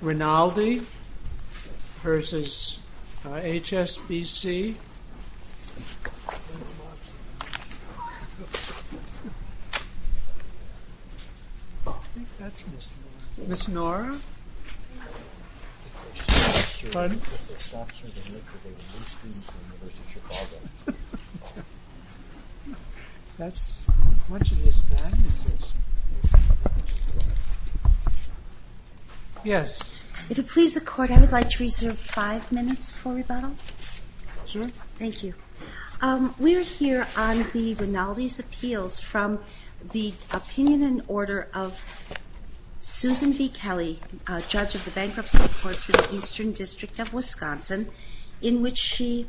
Rinaldi versus HSBC, Ms. Nora, yes. If it please the court, I would like to reserve five minutes for rebuttal. Sure. Thank you. Um, we're here on the Rinaldi's appeals from the opinion and order of Susan V. Kelly, judge of the bankruptcy court for the Eastern district of Wisconsin, in which she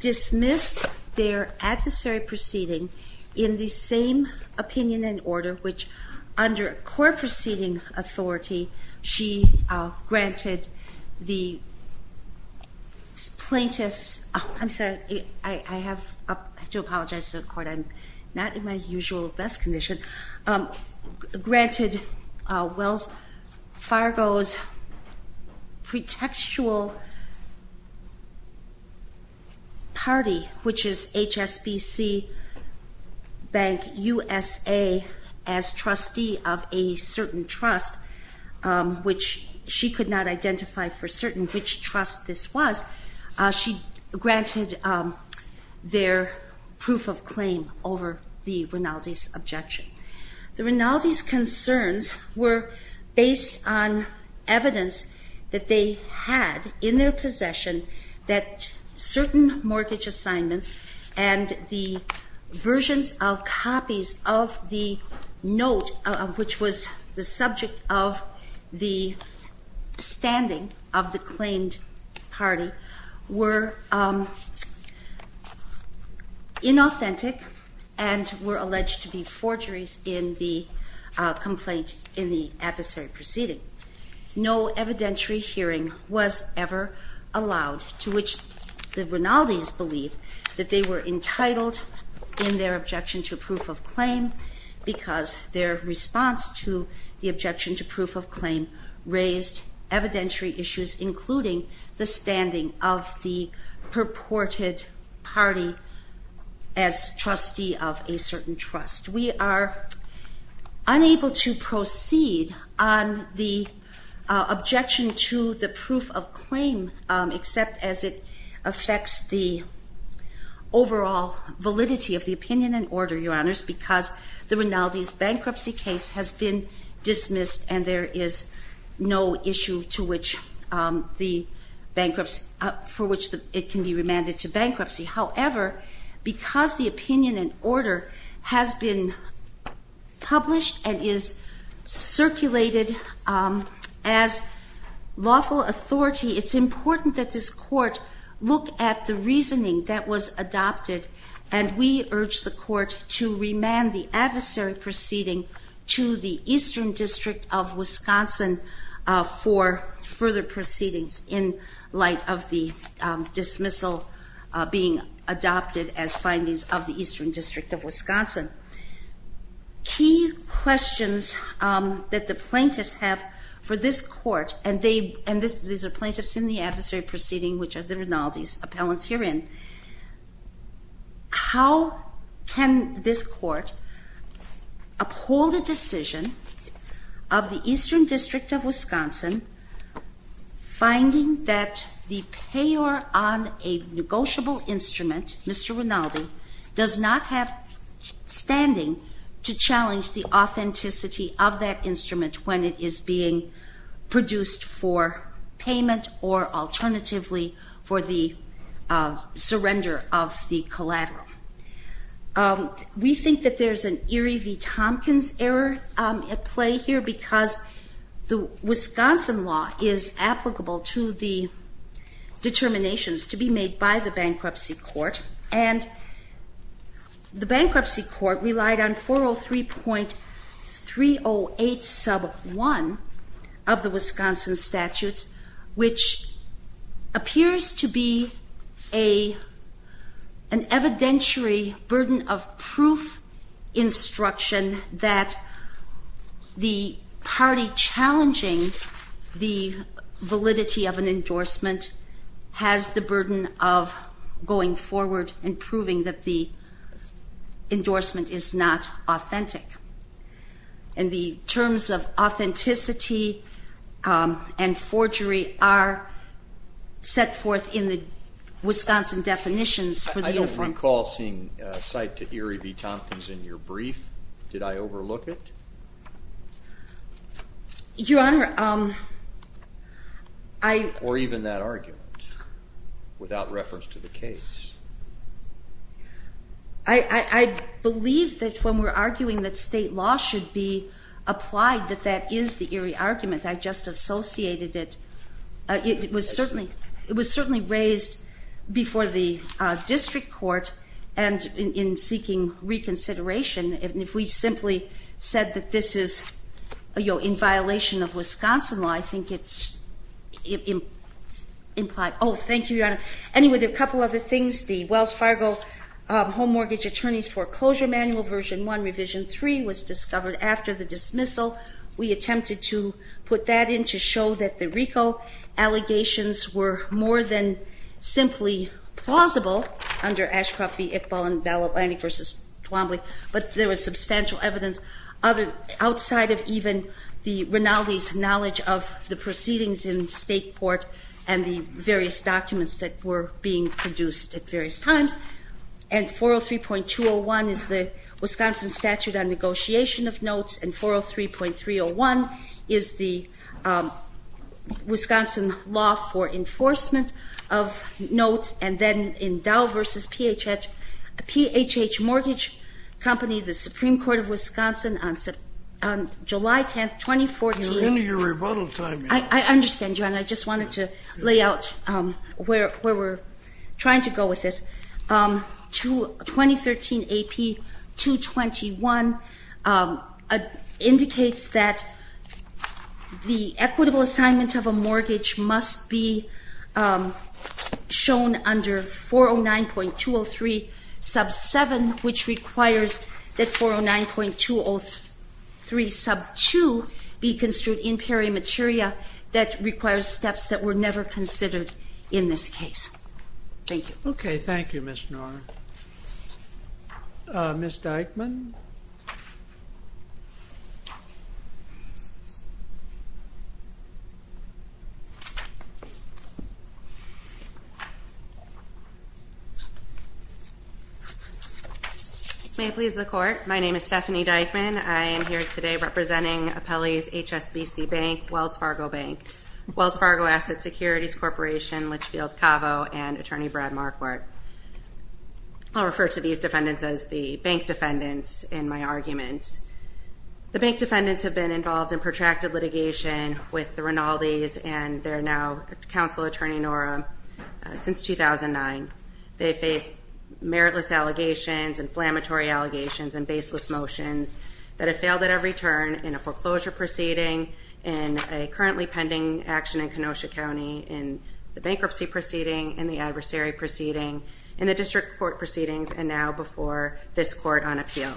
dismissed their adversary proceeding in the same opinion and order which under court proceeding authority, she granted the plaintiffs. I'm sorry. I have to apologize to the court. I'm not in my usual best condition. Um, granted a Wells Fargo's pretextual party, which is HSBC bank, and USA as trustee of a certain trust, um, which she could not identify for certain which trust this was. Uh, she granted, um, their proof of claim over the Rinaldi's objection. The Rinaldi's concerns were based on evidence that they had in their possession of the note, which was the subject of the standing of the claimed party were inauthentic and were alleged to be forgeries in the complaint in the adversary proceeding. No evidentiary hearing was ever allowed to which the Rinaldi's believe that they were entitled in their objection to proof of claim because their response to the objection to proof of claim raised evidentiary issues, including the standing of the purported party as trustee of a certain trust. We are unable to proceed on the objection to the proof of claim except as it is the overall validity of the opinion and order your honors, because the Rinaldi's bankruptcy case has been dismissed and there is no issue to which, um, the bankruptcy for which it can be remanded to bankruptcy. However, because the opinion and order has been published and is circulated as lawful authority, it's important that this court look at the reasoning that was adopted and we urged the court to remand the adversary proceeding to the Eastern District of Wisconsin for further proceedings in light of the dismissal being adopted as findings of the Eastern District of Wisconsin. Key questions that the plaintiffs have for this court and they, and there's a plaintiffs in the adversary proceeding, which are the Rinaldi's appellants herein. How can this court uphold a decision of the Eastern District of Wisconsin finding that the payer on a negotiable instrument, Mr. Rinaldi does not have standing to challenge the authenticity of that payment or alternatively for the surrender of the collateral? We think that there's an Erie V. Tompkins error at play here because the Wisconsin law is applicable to the determinations to be made by the bankruptcy court and the bankruptcy court relied on 403.308 sub one of the Wisconsin statutes, which appears to be a an evidentiary burden of proof instruction that the party challenging the validity of an endorsement has the burden of going forward and proving that the endorsement is not authentic and the terms of authenticity, um, and forgery are set forth in the Wisconsin definitions. I don't recall seeing a site to Erie V. Tompkins in your brief. Did I overlook it? Your honor? Um, I, or even that argument without reference to the case. I believe that when we're arguing that state law should be applied, that that is the Erie argument. I just associated it. It was certainly, it was certainly raised before the district court and in seeking reconsideration. If we simply said that this is a, you know, in violation of Wisconsin law, I think it's implied. Oh, thank you. Your honor. Anyway, there are a couple of other things. The Wells Fargo home mortgage attorneys foreclosure manual version one revision three was discovered after the dismissal. We attempted to put that in to show that the Rico allegations were more than simply plausible under Ashcroft v. Iqbal and ballot landing versus Twombly, but there was substantial evidence other outside of even the Rinaldi's knowledge of the proceedings in state court and the various documents that were being produced at various times. And 403.201 is the Wisconsin statute on negotiation of notes. And 403.301 is the Wisconsin law for enforcement of notes. And then in Dow versus P H H P H H mortgage company, the Supreme court of Wisconsin on July 10th, 2014. I understand you. And I just wanted to lay out where, where we're trying to go with this to 2013. AP two 21 indicates that the equitable assignment of a mortgage must be shown under 409.203 sub seven, which requires that 409.203 sub two be construed in peri materia that requires steps that were never considered in this case. Thank you. Okay. Thank you, Ms. Norris. Uh, Ms. Dykeman. May it please the court. My name is Stephanie Dykeman. I am here today representing a Pelley's HSBC bank, Wells Fargo bank, Wells Fargo asset securities corporation, Litchfield Cavo and attorney Brad Marquardt. I'll refer to these defendants as the bank defendants in my argument. The bank defendants have been involved in protracted litigation with the Rinaldi's and they're now counsel attorney Nora since 2009. They faced meritless allegations and flammatory allegations and baseless motions that have failed at every turn in a foreclosure proceeding and a pending action in Kenosha County and the bankruptcy proceeding and the adversary proceeding and the district court proceedings. And now before this court on appeal,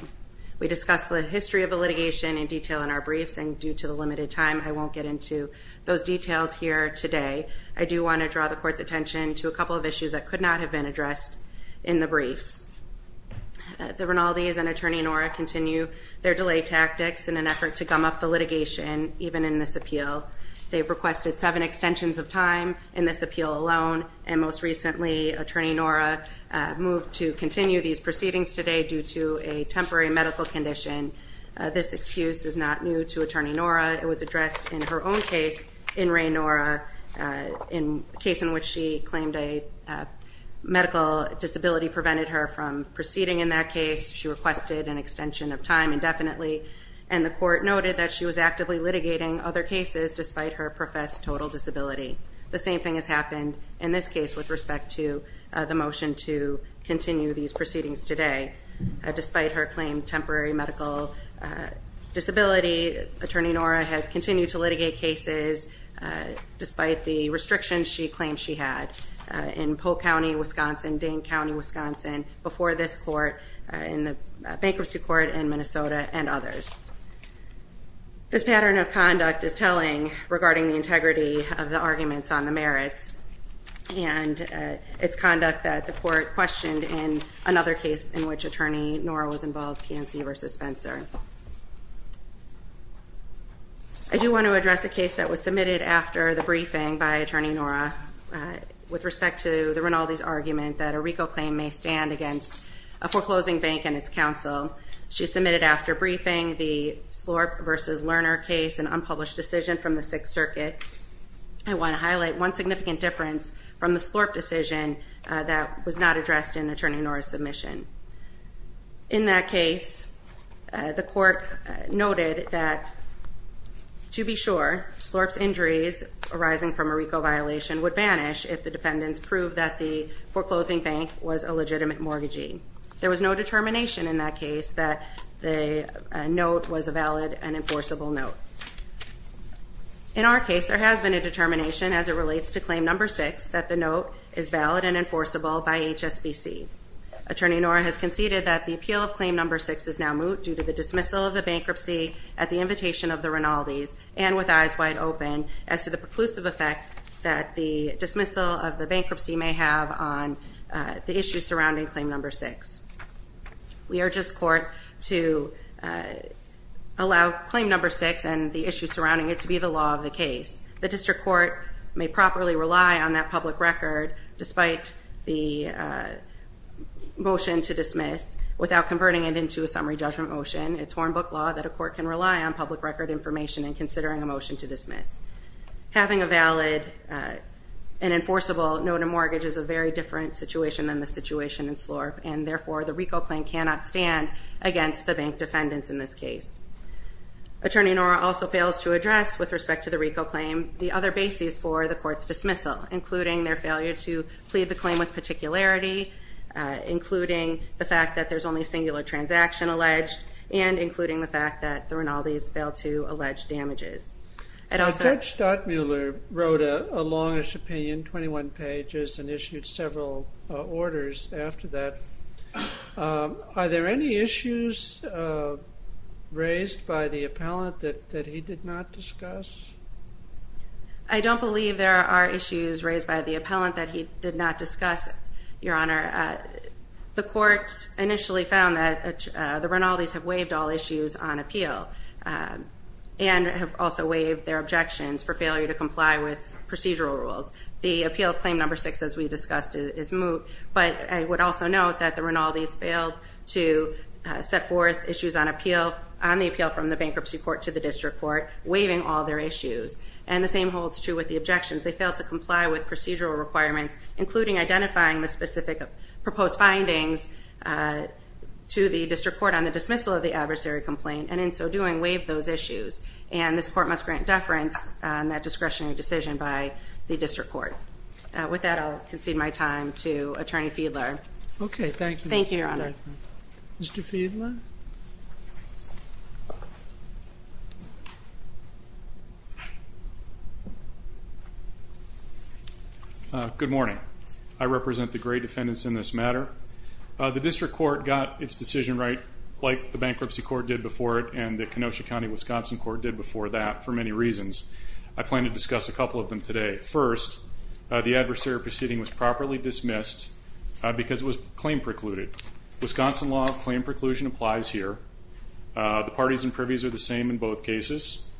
we discussed the history of the litigation in detail in our briefs and due to the limited time, I won't get into those details here today. I do want to draw the court's attention to a couple of issues that could not have been addressed in the briefs. The Rinaldi's and attorney Nora continue their delay tactics in an effort to gum up the litigation. Even in this appeal, they've requested seven extensions of time in this appeal alone. And most recently attorney Nora moved to continue these proceedings today due to a temporary medical condition. This excuse is not new to attorney Nora. It was addressed in her own case in Ray Nora in case in which she claimed a medical disability prevented her from proceeding in that case. She requested an extension of time indefinitely and the court noted that she was actively litigating other cases despite her professed total disability. The same thing has happened in this case with respect to the motion to continue these proceedings today. Despite her claim, temporary medical disability attorney Nora has continued to litigate cases despite the restrictions she claimed she had in Polk County, Wisconsin, Dane County, Wisconsin, before this court, in the bankruptcy court in Minnesota and others. This pattern of conduct is telling regarding the integrity of the arguments on the merits and it's conduct that the court questioned in another case in which attorney Nora was involved, PNC versus Spencer. I do want to address a case that was submitted after the briefing by attorney Nora with respect to the Rinaldi's argument that a RICO claim may stand against a foreclosing bank and its counsel. She submitted after briefing the Slorp versus Lerner case, an unpublished decision from the sixth circuit. I want to highlight one significant difference from the Slorp decision that was not addressed in attorney Nora's submission. In that case, the court noted that to be sure Slorp's injuries arising from a RICO violation would vanish if the defendants proved that the foreclosing bank was a legitimate mortgagee. There was no determination in that case that the note was a valid and enforceable note. In our case, there has been a determination as it relates to claim number six that the note is valid and enforceable by HSBC. Attorney Nora has conceded that the appeal of claim number six is now moot due to the dismissal of the bankruptcy at the invitation of the Rinaldi's and with eyes wide open as to the preclusive effect that the dismissal of the bankruptcy may have on the issues surrounding claim number six. We are just court to allow claim number six and the issues surrounding it to be the law of the case. The district court may properly rely on that public record despite the motion to dismiss without converting it into a summary judgment motion. It's horn book law that a court can rely on public record information and dismiss. Having a valid and enforceable note of mortgage is a very different situation than the situation in Slorp and therefore the RICO claim cannot stand against the bank defendants in this case. Attorney Nora also fails to address with respect to the RICO claim the other bases for the court's dismissal, including their failure to plead the claim with particularity, including the fact that there's only singular transaction alleged and including the fact that the Rinaldi's failed to allege damages. Judge Stottmuller wrote a longish opinion, 21 pages and issued several orders after that. Are there any issues raised by the appellant that he did not discuss? I don't believe there are issues raised by the appellant that he did not discuss, your honor. The court initially found that the Rinaldi's have waived all issues on appeal and have also waived their objections for failure to comply with procedural rules. The appeal of claim number six, as we discussed, is moot, but I would also note that the Rinaldi's failed to set forth issues on appeal, on the appeal from the bankruptcy court to the district court, waiving all their issues and the same holds true with the objections. They failed to comply with procedural requirements, including identifying the specific proposed findings to the district court on dismissal of the adversary complaint and in so doing waive those issues and this court must grant deference on that discretionary decision by the district court. With that, I'll concede my time to attorney Fiedler. Okay. Thank you. Thank you, your honor. Mr. Fiedler. Good morning. I represent the great defendants in this matter. The district court got its decision right, like the bankruptcy court did before it and the Kenosha County, Wisconsin court did before that for many reasons. I plan to discuss a couple of them today. First, the adversary proceeding was properly dismissed because it was claim precluded. Wisconsin law of claim preclusion applies here. The parties and privies are the same in both cases.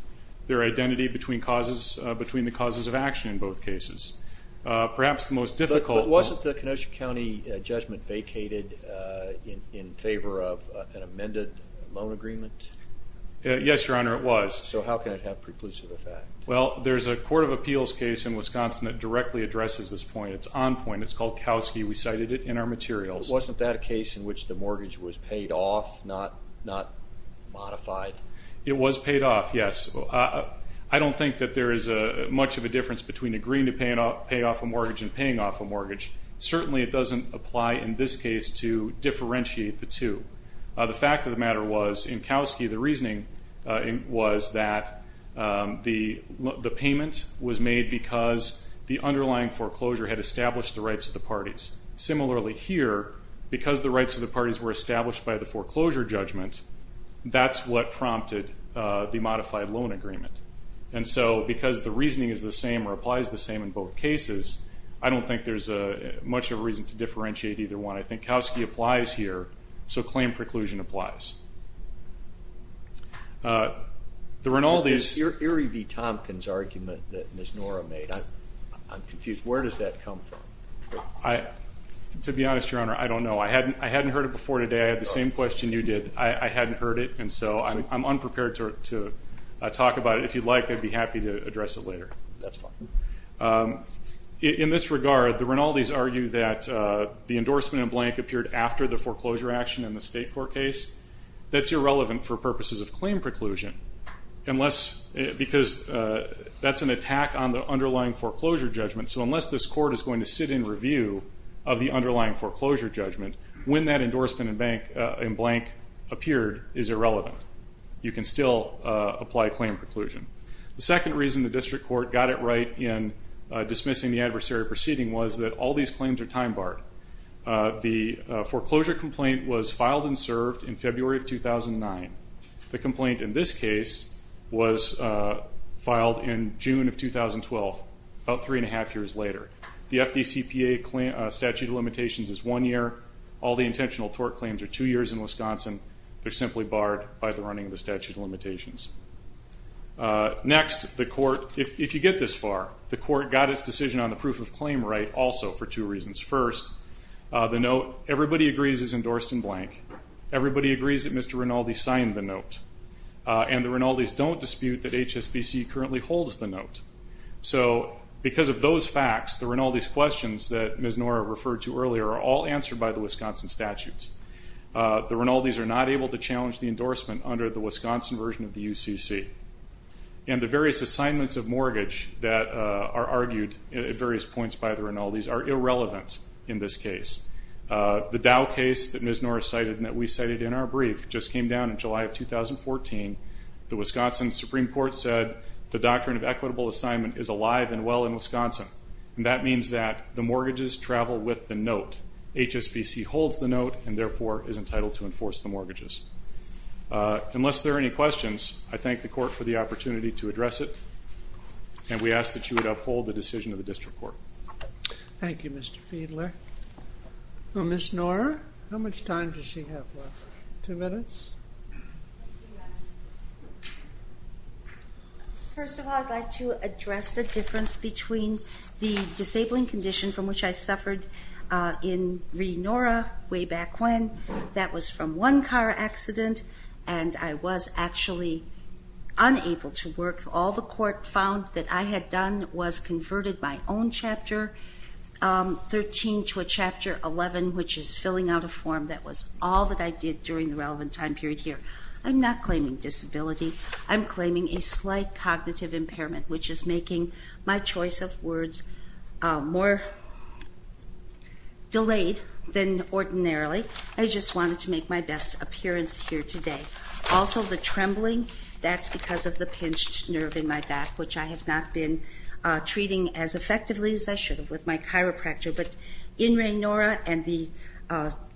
Their identity between causes, between the causes of action in both cases, perhaps the most difficult. Wasn't the Kenosha County judgment vacated in favor of an amended loan agreement? Yes, your honor. It was. So how can it have preclusive effect? Well, there's a court of appeals case in Wisconsin that directly addresses this point. It's on point. It's called Kowski. We cited it in our materials. Wasn't that a case in which the mortgage was paid off? Not, not modified. It was paid off. Yes. I don't think that there is much of a difference between agreeing to pay off a mortgage and paying off a mortgage. Certainly it doesn't apply in this case to differentiate the two. The fact of the matter was in Kowski, the reasoning was that the payment was made because the underlying foreclosure had established the rights of the parties. Similarly here, because the rights of the parties were established by the foreclosure judgment, that's what prompted the modified loan agreement. And so because the reasoning is the same or applies the same in both cases, I don't think there's a much of a reason to differentiate either one. I think Kowski applies here. So claim preclusion applies. There are in all these. Your Erie V. Tompkins argument that Ms. Nora made, I'm confused. Where does that come from? I, to be honest, your honor, I don't know. I hadn't, I hadn't heard it before today. I had the same question you did. I hadn't heard it and so I'm unprepared to talk about it. If you'd like, I'd be happy to address it later. That's fine. In this regard, the Rinaldi's argue that the endorsement in blank appeared after the foreclosure action in the state court case. That's irrelevant for purposes of claim preclusion unless because that's an attack on the underlying foreclosure judgment. So unless this court is going to sit in review of the underlying foreclosure judgment, when that endorsement in blank appeared is irrelevant. You can still apply claim preclusion. The second reason the district court got it right in dismissing the adversary proceeding was that all these claims are time barred. The foreclosure complaint was filed and served in February of 2009. The complaint in this case was filed in June of 2012, about three and a half years later. The FDCPA statute of limitations is one year. All the intentional tort claims are two years in Wisconsin. They're simply barred by the running of the statute of limitations. Next, the court, if you get this far, the court got its decision on the proof of claim right also for two reasons. First, the note everybody agrees is endorsed in blank. Everybody agrees that Mr. Rinaldi signed the note and the Rinaldi's don't dispute that HSBC currently holds the note. So, because of those facts, the Rinaldi's questions that Ms. Nora referred to earlier are all answered by the Wisconsin statutes. The Rinaldi's are not able to challenge the endorsement under the Wisconsin version of the UCC, and the various assignments of mortgage that are argued at various points by the Rinaldi's are irrelevant in this case. The Dow case that Ms. Nora cited and that we cited in our brief just came down in July of 2014, the Wisconsin Supreme Court said the doctrine of equitable assignment is alive and well in Wisconsin. And that means that the mortgages travel with the note. HSBC holds the note and, therefore, is entitled to enforce the mortgages. Unless there are any questions, I thank the court for the opportunity to address it, and we ask that you would uphold the decision of the district court. Thank you, Mr. Fiedler. Well, Ms. Nora, how much time does she have left? Two minutes? Two minutes. First of all, I'd like to address the difference between the disabling condition from which I suffered in Ree Nora way back when. That was from one car accident, and I was actually unable to work. All the court found that I had done was converted my own Chapter 13 to a Chapter 11, which is filling out a form. That was all that I did during the relevant time period here. I'm not claiming disability. I'm claiming a slight cognitive impairment, which is making my choice of words more delayed than ordinarily. I just wanted to make my best appearance here today. Also, the trembling, that's because of the pinched nerve in my back, which I have not been treating as effectively as I should have with my chiropractor. But in Ree Nora and the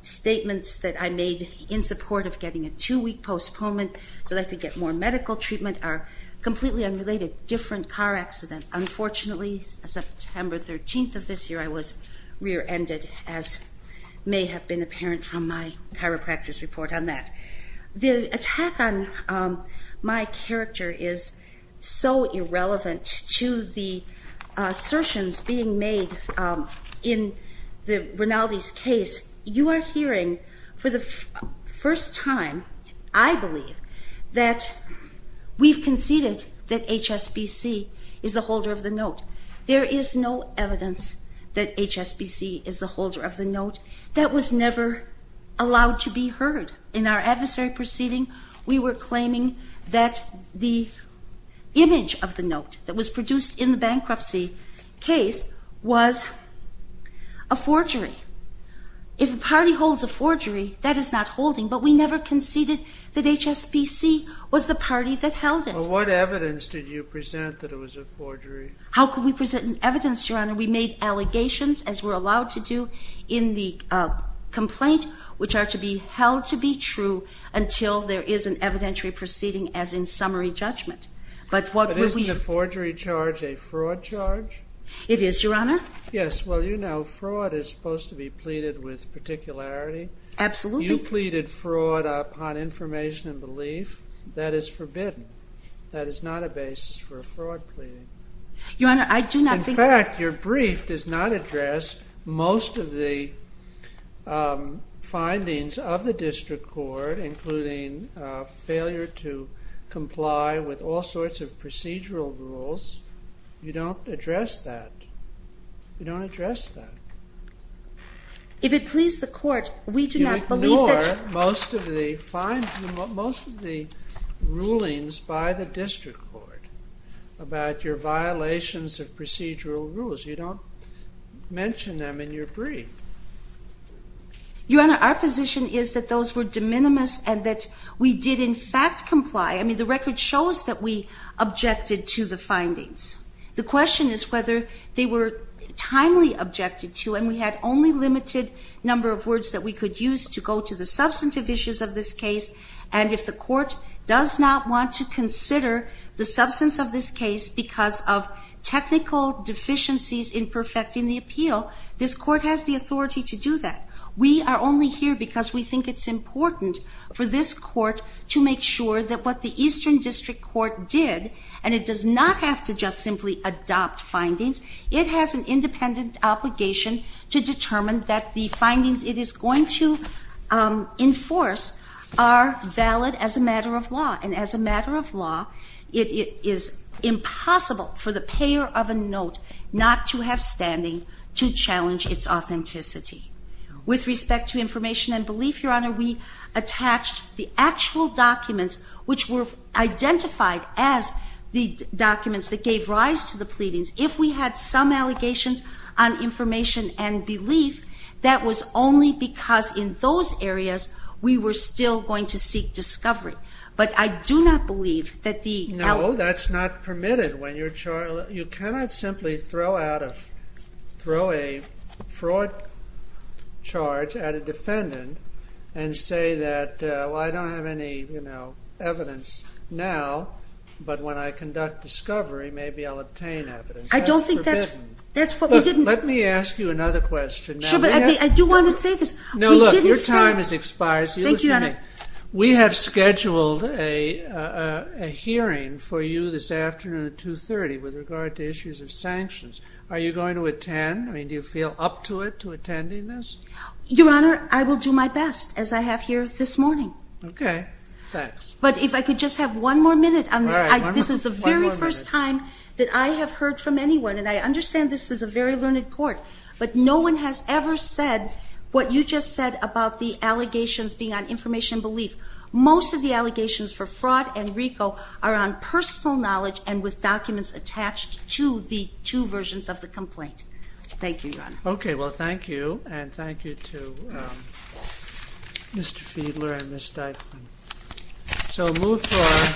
statements that I made in support of getting a two-week postponement so that I could get more medical treatment are completely unrelated, different car accident. Unfortunately, September 13th of this year, I was rear-ended, as may have been apparent from my chiropractor's report on that. The attack on my character is so irrelevant to the assertions being made in the Rinaldi's case. You are hearing for the first time, I believe, that we've conceded that HSBC is the holder of the note. There is no evidence that HSBC is the holder of the note. That was never allowed to be heard. In our adversary proceeding, we were claiming that the image of the note that was produced in the bankruptcy case was a forgery. If the party holds a forgery, that is not holding, but we never conceded that HSBC was the party that held it. Well, what evidence did you present that it was a forgery? How could we present evidence, Your Honor? We made allegations, as we're allowed to do in the complaint, which are to be held to be true until there is an evidentiary proceeding as in summary judgment. But what were we... But isn't the forgery charge a fraud charge? It is, Your Honor. Yes. Well, you know, fraud is supposed to be pleaded with particularity. Absolutely. You pleaded fraud upon information and belief. That is forbidden. That is not a basis for a fraud plea. Your Honor, I do not think... In fact, your brief does not address most of the findings of the district court, including failure to comply with all sorts of procedural rules. You don't address that. You don't address that. If it pleased the court, we do not believe that... You ignore most of the findings, most of the rulings by the district court about your violations of procedural rules. You don't mention them in your brief. Your Honor, our position is that those were de minimis and that we did, in fact, comply. The question is whether they were timely objected to. And we had only limited number of words that we could use to go to the substantive issues of this case. And if the court does not want to consider the substance of this case because of technical deficiencies in perfecting the appeal, this court has the authority to do that. We are only here because we think it's important for this court to make sure that what the Eastern District Court did, and it does not have to just simply adopt findings, it has an independent obligation to determine that the findings it is going to enforce are valid as a matter of law. And as a matter of law, it is impossible for the payer of a note not to have standing to challenge its authenticity. And that's why we attached the actual documents, which were identified as the documents that gave rise to the pleadings. If we had some allegations on information and belief, that was only because in those areas we were still going to seek discovery. But I do not believe that the... No, that's not permitted when you're charged... You cannot simply throw a fraud charge at a defendant and say that, well, I don't have any, you know, evidence now, but when I conduct discovery, maybe I'll obtain evidence. I don't think that's what we didn't... Let me ask you another question. I do want to say this... No, look, your time has expired. We have scheduled a hearing for you this afternoon at 2.30 with regard to issues of sanctions. Are you going to attend? I mean, do you feel up to it, to attending this? Your Honor, I will do my best, as I have here this morning. Okay, thanks. But if I could just have one more minute on this. This is the very first time that I have heard from anyone, and I understand this is a very learned court, but no one has ever said what you just said about the allegations being on information and belief. Most of the allegations for fraud and RICO are on personal knowledge and with documents attached to the two versions of the complaint. Thank you, Your Honor. Okay, well, thank you, and thank you to Mr. Fiedler and Ms. Steichman. So, move forward.